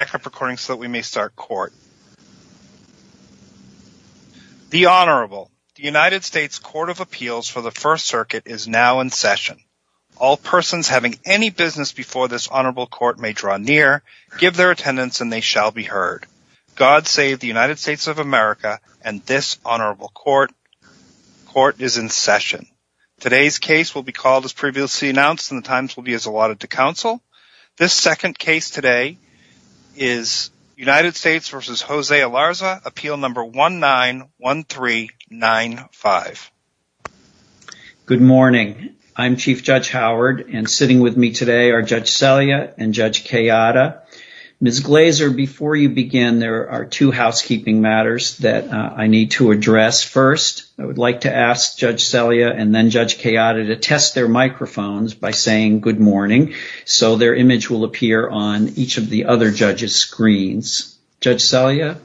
The Honorable. The United States Court of Appeals for the First Circuit is now in session. All persons having any business before this Honorable Court may draw near, give their attendance and they shall be heard. God save the United States of America and this Honorable Court is in session. Today's case will be called as previously announced and the times today is United States v. Jose Ilarraza, Appeal Number 191395. Good morning. I'm Chief Judge Howard and sitting with me today are Judge Selya and Judge Kayada. Ms. Glazer, before you begin, there are two housekeeping matters that I need to address first. I would like to ask Judge Selya and then Judge Kayada to test their microphones by saying good morning so their image will appear on each of the other judges' screens. Judge Selya.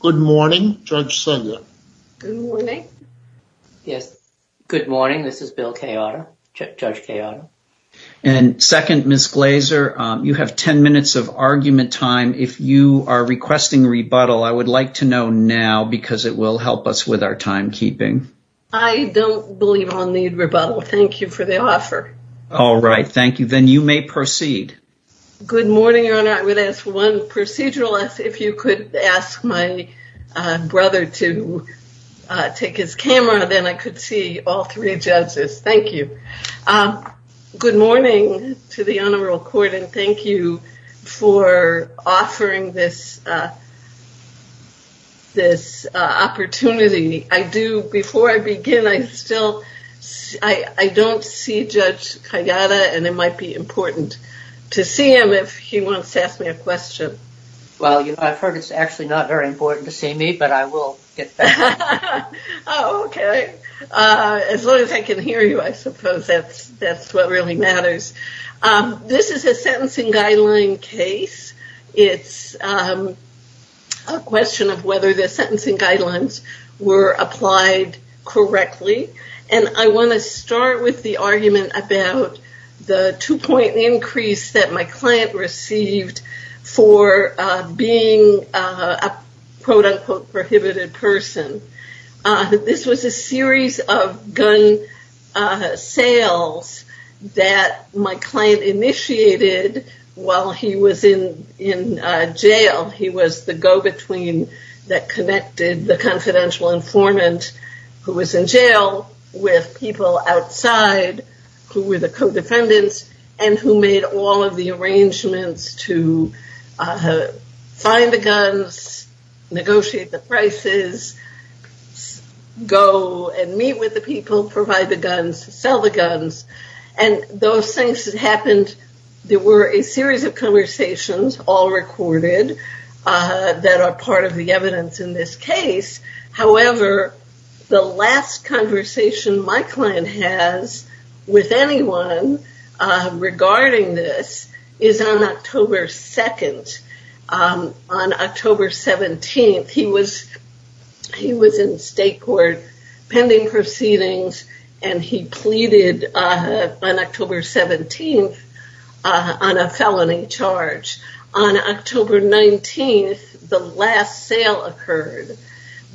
Good morning. Judge Selya. Good morning. Yes, good morning. This is Bill Kayada, Judge Kayada. And second, Ms. Glazer, you have 10 minutes of argument time. If you are requesting rebuttal, I would like to know now because it will help us with our timekeeping. I don't believe I'll need rebuttal. Thank you for the offer. All right. Thank you. Then you may proceed. Good morning, Your Honor. I would ask one procedural if you could ask my brother to take his camera, then I could see all three judges. Thank you. Good morning to the Honorable Court and thank you for offering this opportunity. Before I begin, I don't see Judge Kayada and it might be important to see him if he wants to ask me a question. Well, I've heard it's actually not very important to see me, but I will get back to you. Oh, okay. As long as I can hear you, I suppose that's what really matters. This is a sentencing guideline case. It's a question of whether the sentencing guidelines were applied correctly. And I want to start with the argument about the two-point increase that my client received for being a, quote unquote, prohibited person. This was a series of gun sales that my client initiated while he was in jail. He was the go-between that connected the confidential informant who was in jail with people outside who were the co-defendants and who made all of the arrangements to find the guns, negotiate the prices, go and meet with the people, provide the guns, sell the guns. And those things that happened, there were a series of conversations, all recorded, that are part of the evidence in this case. However, the last conversation my client has with anyone regarding this is on October 2nd. On October 17th, he was in state court pending proceedings, and he pleaded on October 17th on a felony charge. On October 19th, the last sale occurred.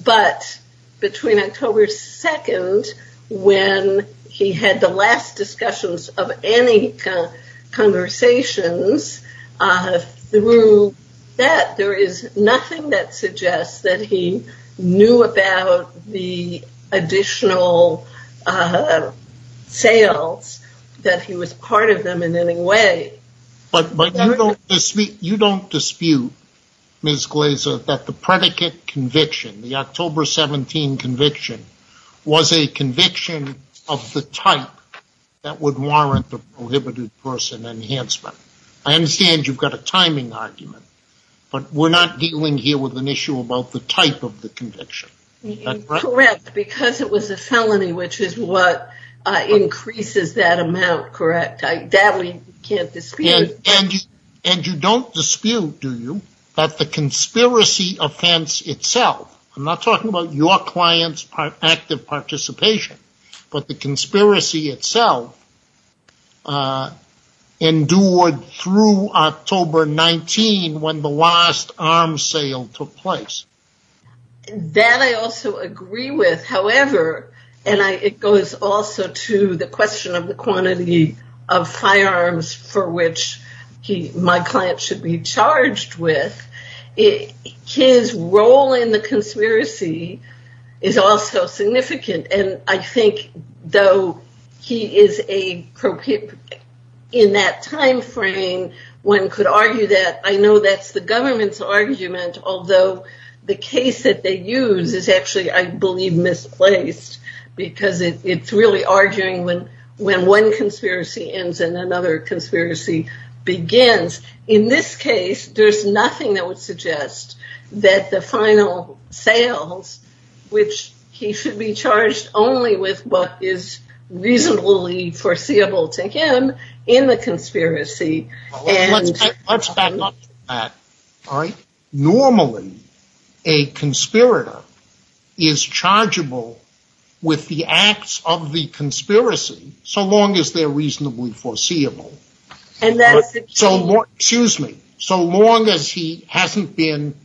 But between October 2nd, when he had the last discussions of any conversations through that, there is nothing that suggests that he knew about the additional sales, that he was part of them in any way. But you don't dispute, Ms. Glazer, that the predicate conviction, the October 17 conviction, was a conviction of the type that would warrant the prohibited person enhancement. I understand you've got a timing argument, but we're not dealing here with an issue about the type of the conviction. Correct, because it was a felony, which is what increases that amount, correct? That we can't dispute. And you don't dispute, do you, that the conspiracy offense itself, I'm not talking about your client's active participation, but the conspiracy itself endured through October 19, when the last arms sale took place. That I also agree with. However, and it goes also to the question of the quantity of firearms for which my client should be charged with, his role in the conspiracy is also significant. And I think though he is in that time frame, one could argue that I know that's the government's argument, although the case that they use is actually, I believe, misplaced, because it's really arguing when one conspiracy ends and another conspiracy begins. In this case, there's nothing that would suggest that the final sales, which he should be charged only with what is reasonably foreseeable to him in the conspiracy. Let's back up to that. Normally, a conspirator is chargeable with the acts of the conspiracy, so long as they're reasonably foreseeable. Excuse me. So long as he hasn't been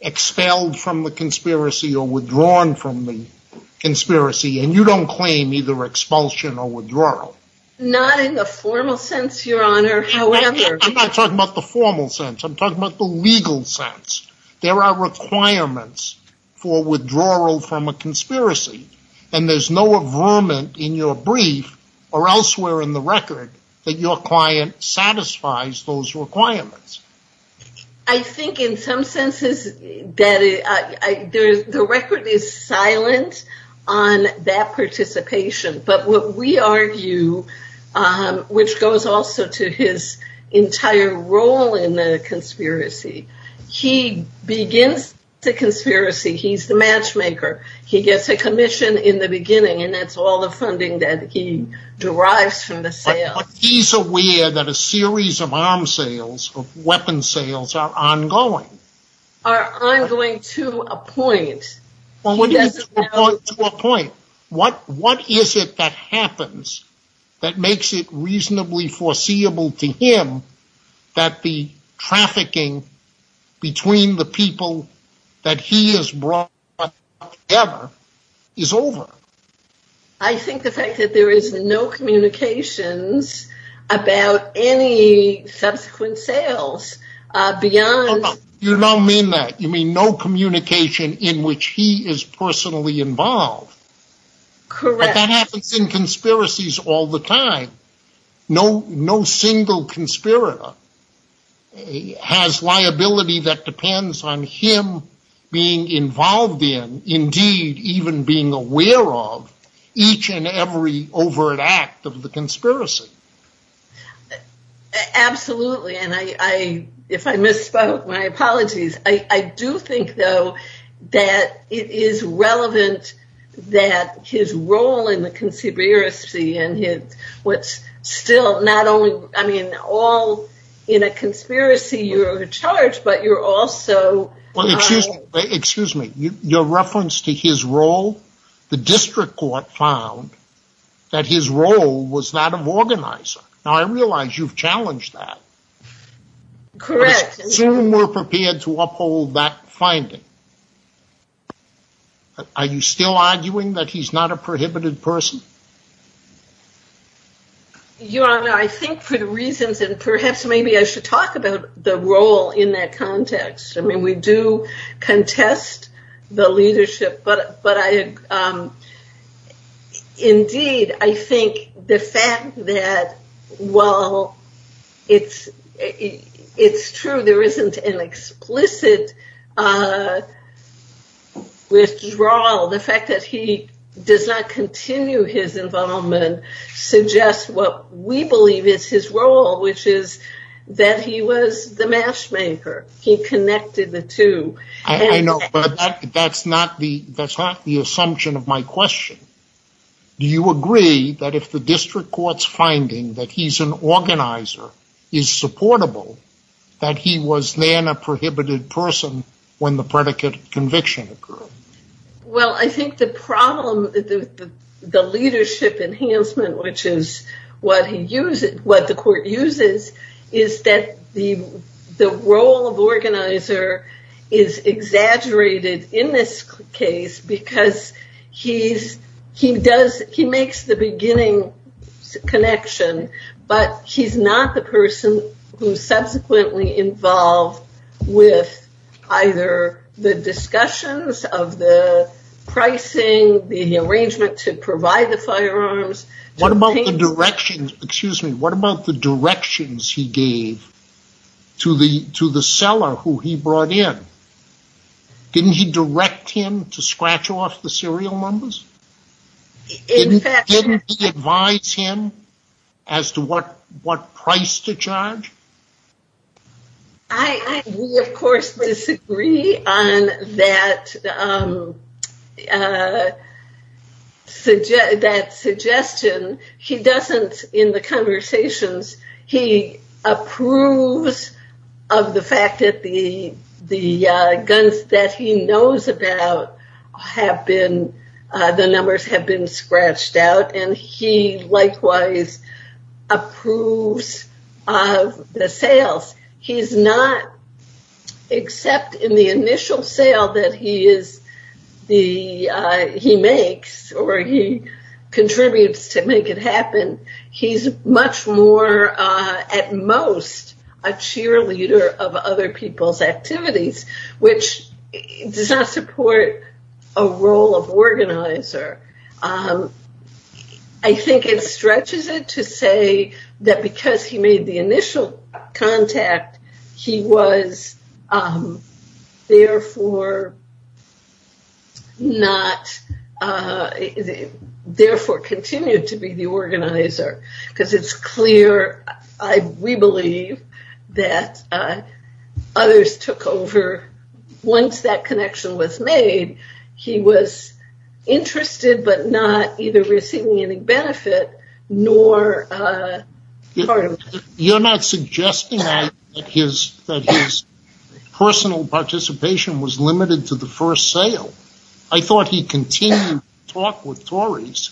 expelled from the conspiracy or withdrawn from the conspiracy, and you don't claim either expulsion or withdrawal. Not in the formal sense, your honor, however. I'm not talking about the formal sense. I'm talking about the legal sense. There are requirements for withdrawal from a conspiracy. There's no agreement in your brief or elsewhere in the record that your client satisfies those requirements. I think in some senses that the record is silent on that participation. But what we argue, which goes also to his entire role in the conspiracy, he begins the conspiracy. He's the matchmaker. He gets a commission in the beginning, and that's all the funding that he derives from the sales. But he's aware that a series of arms sales, of weapon sales, are ongoing. Are ongoing to a point. To a point. What is it that happens that makes it reasonably foreseeable to him that the trafficking between the people that he has brought together is over? I think the fact that there is no communications about any subsequent sales beyond. You don't mean that. You mean no communication in which he is personally involved. Correct. That happens in conspiracies all the time. No single conspirator has liability that depends on him being involved in, indeed even being aware of, each and every overt act of the conspiracy. Absolutely. If I misspoke, my apologies. I do that his role in the conspiracy and what's still not only, I mean, all in a conspiracy, you're charged, but you're also. Excuse me. Your reference to his role, the district court found that his role was that of organizer. Now I realize you've challenged that. Correct. Soon we're prepared to uphold that finding. Are you still arguing that he's not a prohibited person? Your Honor, I think for the reasons, and perhaps maybe I should talk about the role in that context. I mean, we do contest the leadership, but indeed, I think the fact that, well, it's true. There isn't an explicit withdrawal. The fact that he does not continue his involvement suggests what we believe is his role, which is that he was the matchmaker. He connected the two. I know, but that's not the assumption of my question. Do you agree that if the district court's finding that he's an organizer is supportable, that he was then a prohibited person when the predicate conviction occurred? Well, I think the problem, the leadership enhancement, which is what he uses, what the he does, he makes the beginning connection, but he's not the person who subsequently involved with either the discussions of the pricing, the arrangement to provide the firearms. What about the directions, excuse me, what about the directions he gave to the seller who he brought in? Didn't he direct him to scratch off the serial numbers? In fact, didn't he advise him as to what price to charge? I, of course, disagree on that suggestion. He doesn't, in the conversations, he approves of the fact that the guns that he knows about have been, the numbers have been scratched out, and he likewise approves of the sales. He's not, except in the initial sale that he is, the, he makes or he contributes to make it happen. He's much more, at most, a cheerleader of other people's activities, which does not support a role of organizer. I think it stretches it to say that because he made the initial contact, he was therefore not, therefore continued to be the organizer, because it's clear, we believe, that others took over. Once that connection was made, he was interested, but not either receiving any benefit, nor part of it. You're not suggesting that his personal participation was limited to the first sale. I thought he continued to talk with Tories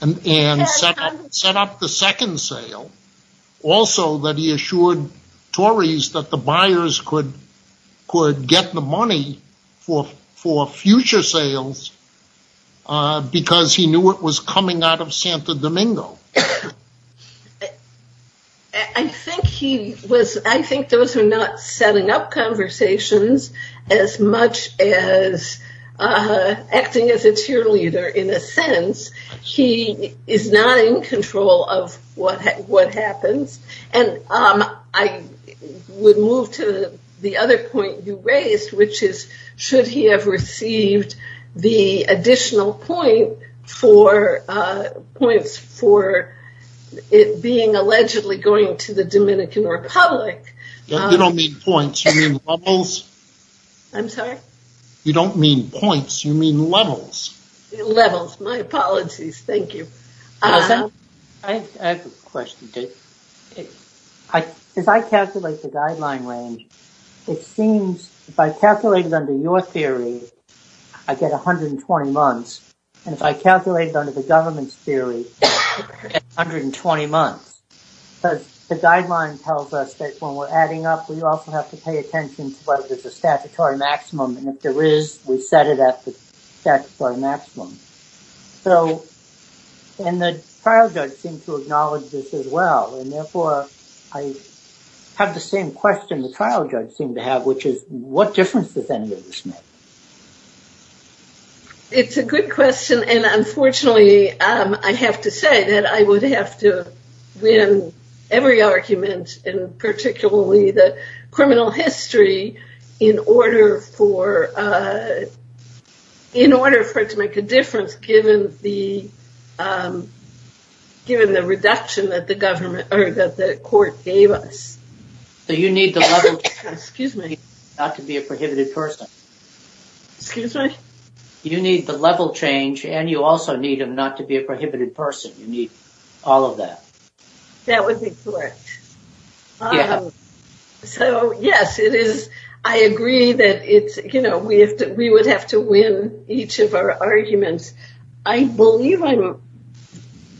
and set up the second sale. Also, that he assured Tories that the buyers could get the money for future sales, because he knew it was coming out of Santa Domingo. I think he was, I think those are not setting up conversations as much as acting as a cheerleader, in a sense. He is not in control of what happens. I would move to the other point you raised, which is, should he have received the additional points for it being allegedly going to the Dominican Republic? You don't mean points, you mean levels. I'm sorry? You don't mean points, you mean levels. Levels. My apologies. Thank you. I have a question. As I calculate the guideline range, it seems, if I calculate it under your theory, I get 120 months. If I calculate it under the government's theory, I get 120 months. The guideline tells us that when we're adding up, we also have to pay attention to whether there's a statutory maximum. If there is, we set it at the statutory maximum. The trial judge seemed to acknowledge this as well. Therefore, I have the same question the trial judge seemed to have, which is, what difference does any of this make? It's a good question. Unfortunately, I have to say that I would have to win every argument, and particularly the criminal history, in order for it to make a difference, given the reduction that the court gave us. You need the level change, and you also need him not to be a prohibited person. You need all of that. That would be correct. Yes, I agree that we would have to win each of our arguments. I believe I'm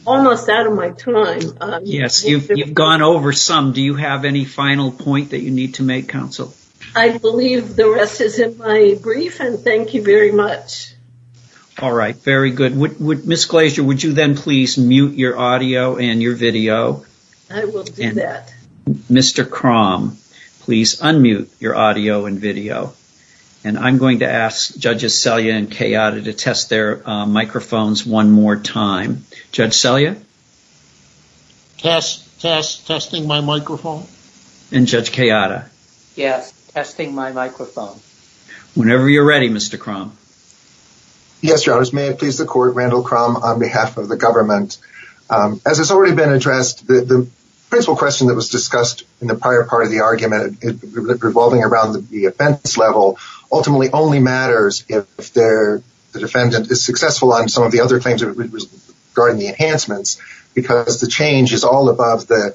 almost out of my time. Yes, you've gone over some. Do you have any final point that you need to make, counsel? I believe the rest is in my brief, and thank you very much. All right. Very good. Ms. Glazier, would you then please unmute your audio and your video? I will do that. Mr. Krom, please unmute your audio and video. I'm going to ask judges Selya and Kayada to test their microphones one more time. Judge Selya? Testing my microphone. Judge Kayada? Yes, testing my microphone. Whenever you're ready, Mr. Krom. Yes, your honors. May it please the court, Randall Krom, on behalf of the government. As has already been addressed, the principal question that was discussed in the prior part of the argument, revolving around the offense level, ultimately only matters if the defendant is successful on some of the other claims regarding the enhancements, because the change is all above the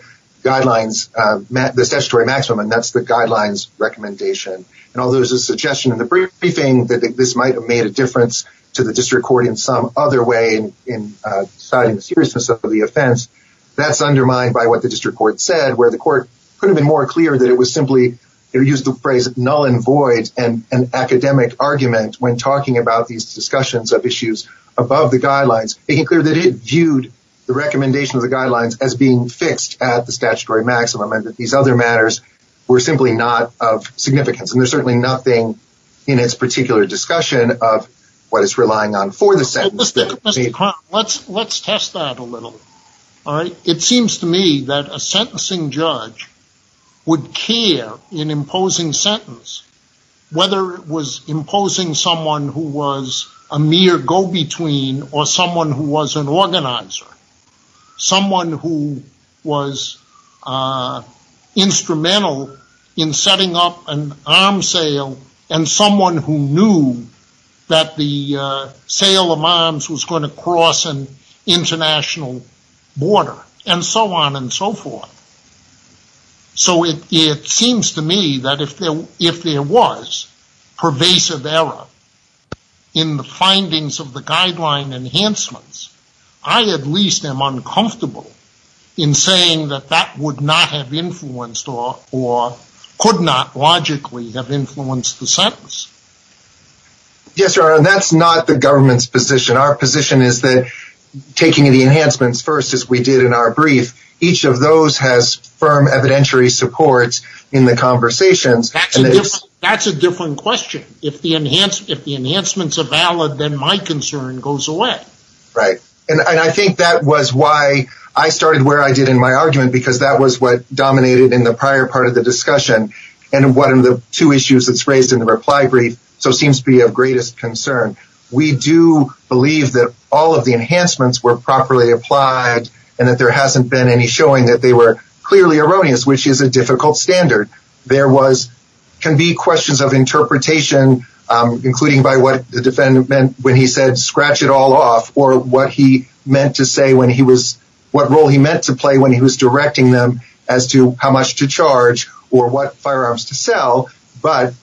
statutory maximum, and that's the guidelines recommendation. Although there's a suggestion in the briefing that this might have made a difference to the district court in some other way in deciding the seriousness of the offense, that's undermined by what the district court said, where the court could have been more clear that it was simply, they used the phrase null and void, and an academic argument when talking about these discussions of issues above the guidelines, making clear that it viewed the recommendation of the guidelines as being fixed at the statutory maximum, and that these other matters were simply not of significance. And there's certainly nothing in this particular discussion of what it's relying on for the sentence. Mr. Krom, let's test that a little. It seems to me that a sentencing judge would care in imposing sentence, whether it was imposing someone who was a mere go-between, or someone who was an organizer, someone who was instrumental in setting up an arms sale, and someone who knew that the sale of arms was going to cross an international border, and so on and so forth. So it seems to me that if there was pervasive error in the findings of the guideline enhancements, I at least am uncomfortable in saying that that would not have influenced, or could not logically have influenced the sentence. Yes, Your Honor, that's not the government's position. Our position is that taking the enhancements first, as we did in our brief, each of those has firm evidentiary supports in the conversations. That's a different question. If the enhancements are valid, then my concern goes away. Right. And I think that was why I started where I did in my argument, because that was what dominated in the prior part of the discussion. And one of the two issues that's raised in the reply brief, so seems to be of greatest concern. We do believe that all of the enhancements were properly applied, and that there hasn't been any showing that they were clearly erroneous, which is a difficult standard. There can be questions of interpretation, including by what the defendant meant when he said, scratch it all off, or what role he meant to play when he was directing them as to how much to charge or what firearms to sell. But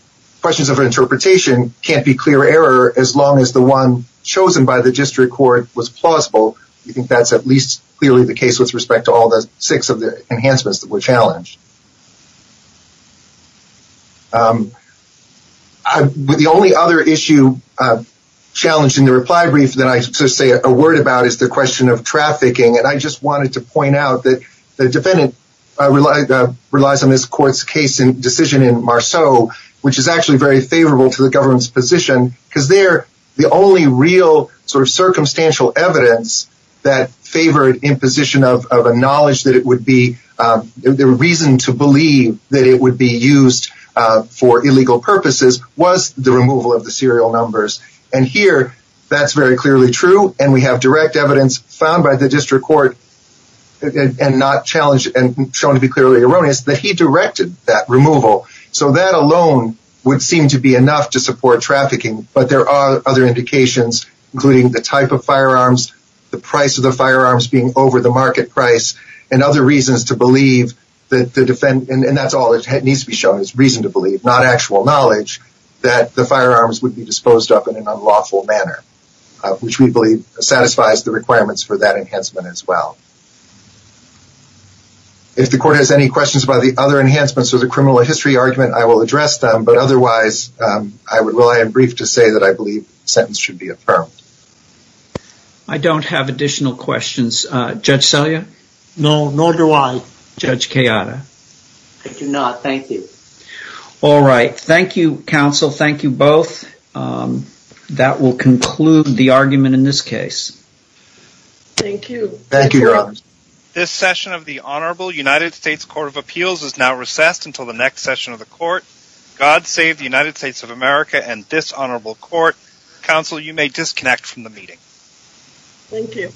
questions of interpretation can't be clear error as long as the one chosen by the district court was plausible. I think that's at least clearly the case with respect to all the six of the enhancements that were challenged. The only other issue challenged in the reply brief that I say a word about is the question of trafficking. And I just wanted to point out that the defendant relies on this court's case and decision in Marceau, which is actually very favorable to the government's position, because they're the only real sort of circumstantial evidence that favored imposition of a knowledge that it would be the reason to believe that it would be used for illegal purposes was the removal of the serial numbers. And here, that's very clearly true. And we have direct evidence found by the district court and not challenged and shown to be clearly erroneous that he directed that removal. So that alone would seem to be enough to support trafficking. But there are other indications, including the type of firearms, the price of the firearms being over the market price, and other reasons to believe that the defendant, and that's all it needs to be shown is reason to believe, not actual knowledge, that the firearms would be disposed up in an unlawful manner, which we believe satisfies the requirements for that enhancement as well. If the court has any questions about the other enhancements or the criminal history argument, I will address them. But otherwise, I would rely on brief to say that I believe sentence should be affirmed. I don't have additional questions. Judge Celia? No, nor do I. Judge Kayada? I do not. Thank you. All right. Thank you, counsel. Thank you both. That will conclude the argument in this case. Thank you. Thank you. This session of the Honorable United States Court of Appeals is now recessed until the next session of the court. God save the United States of America and this honorable court. Counsel, you may disconnect from the meeting. Thank you.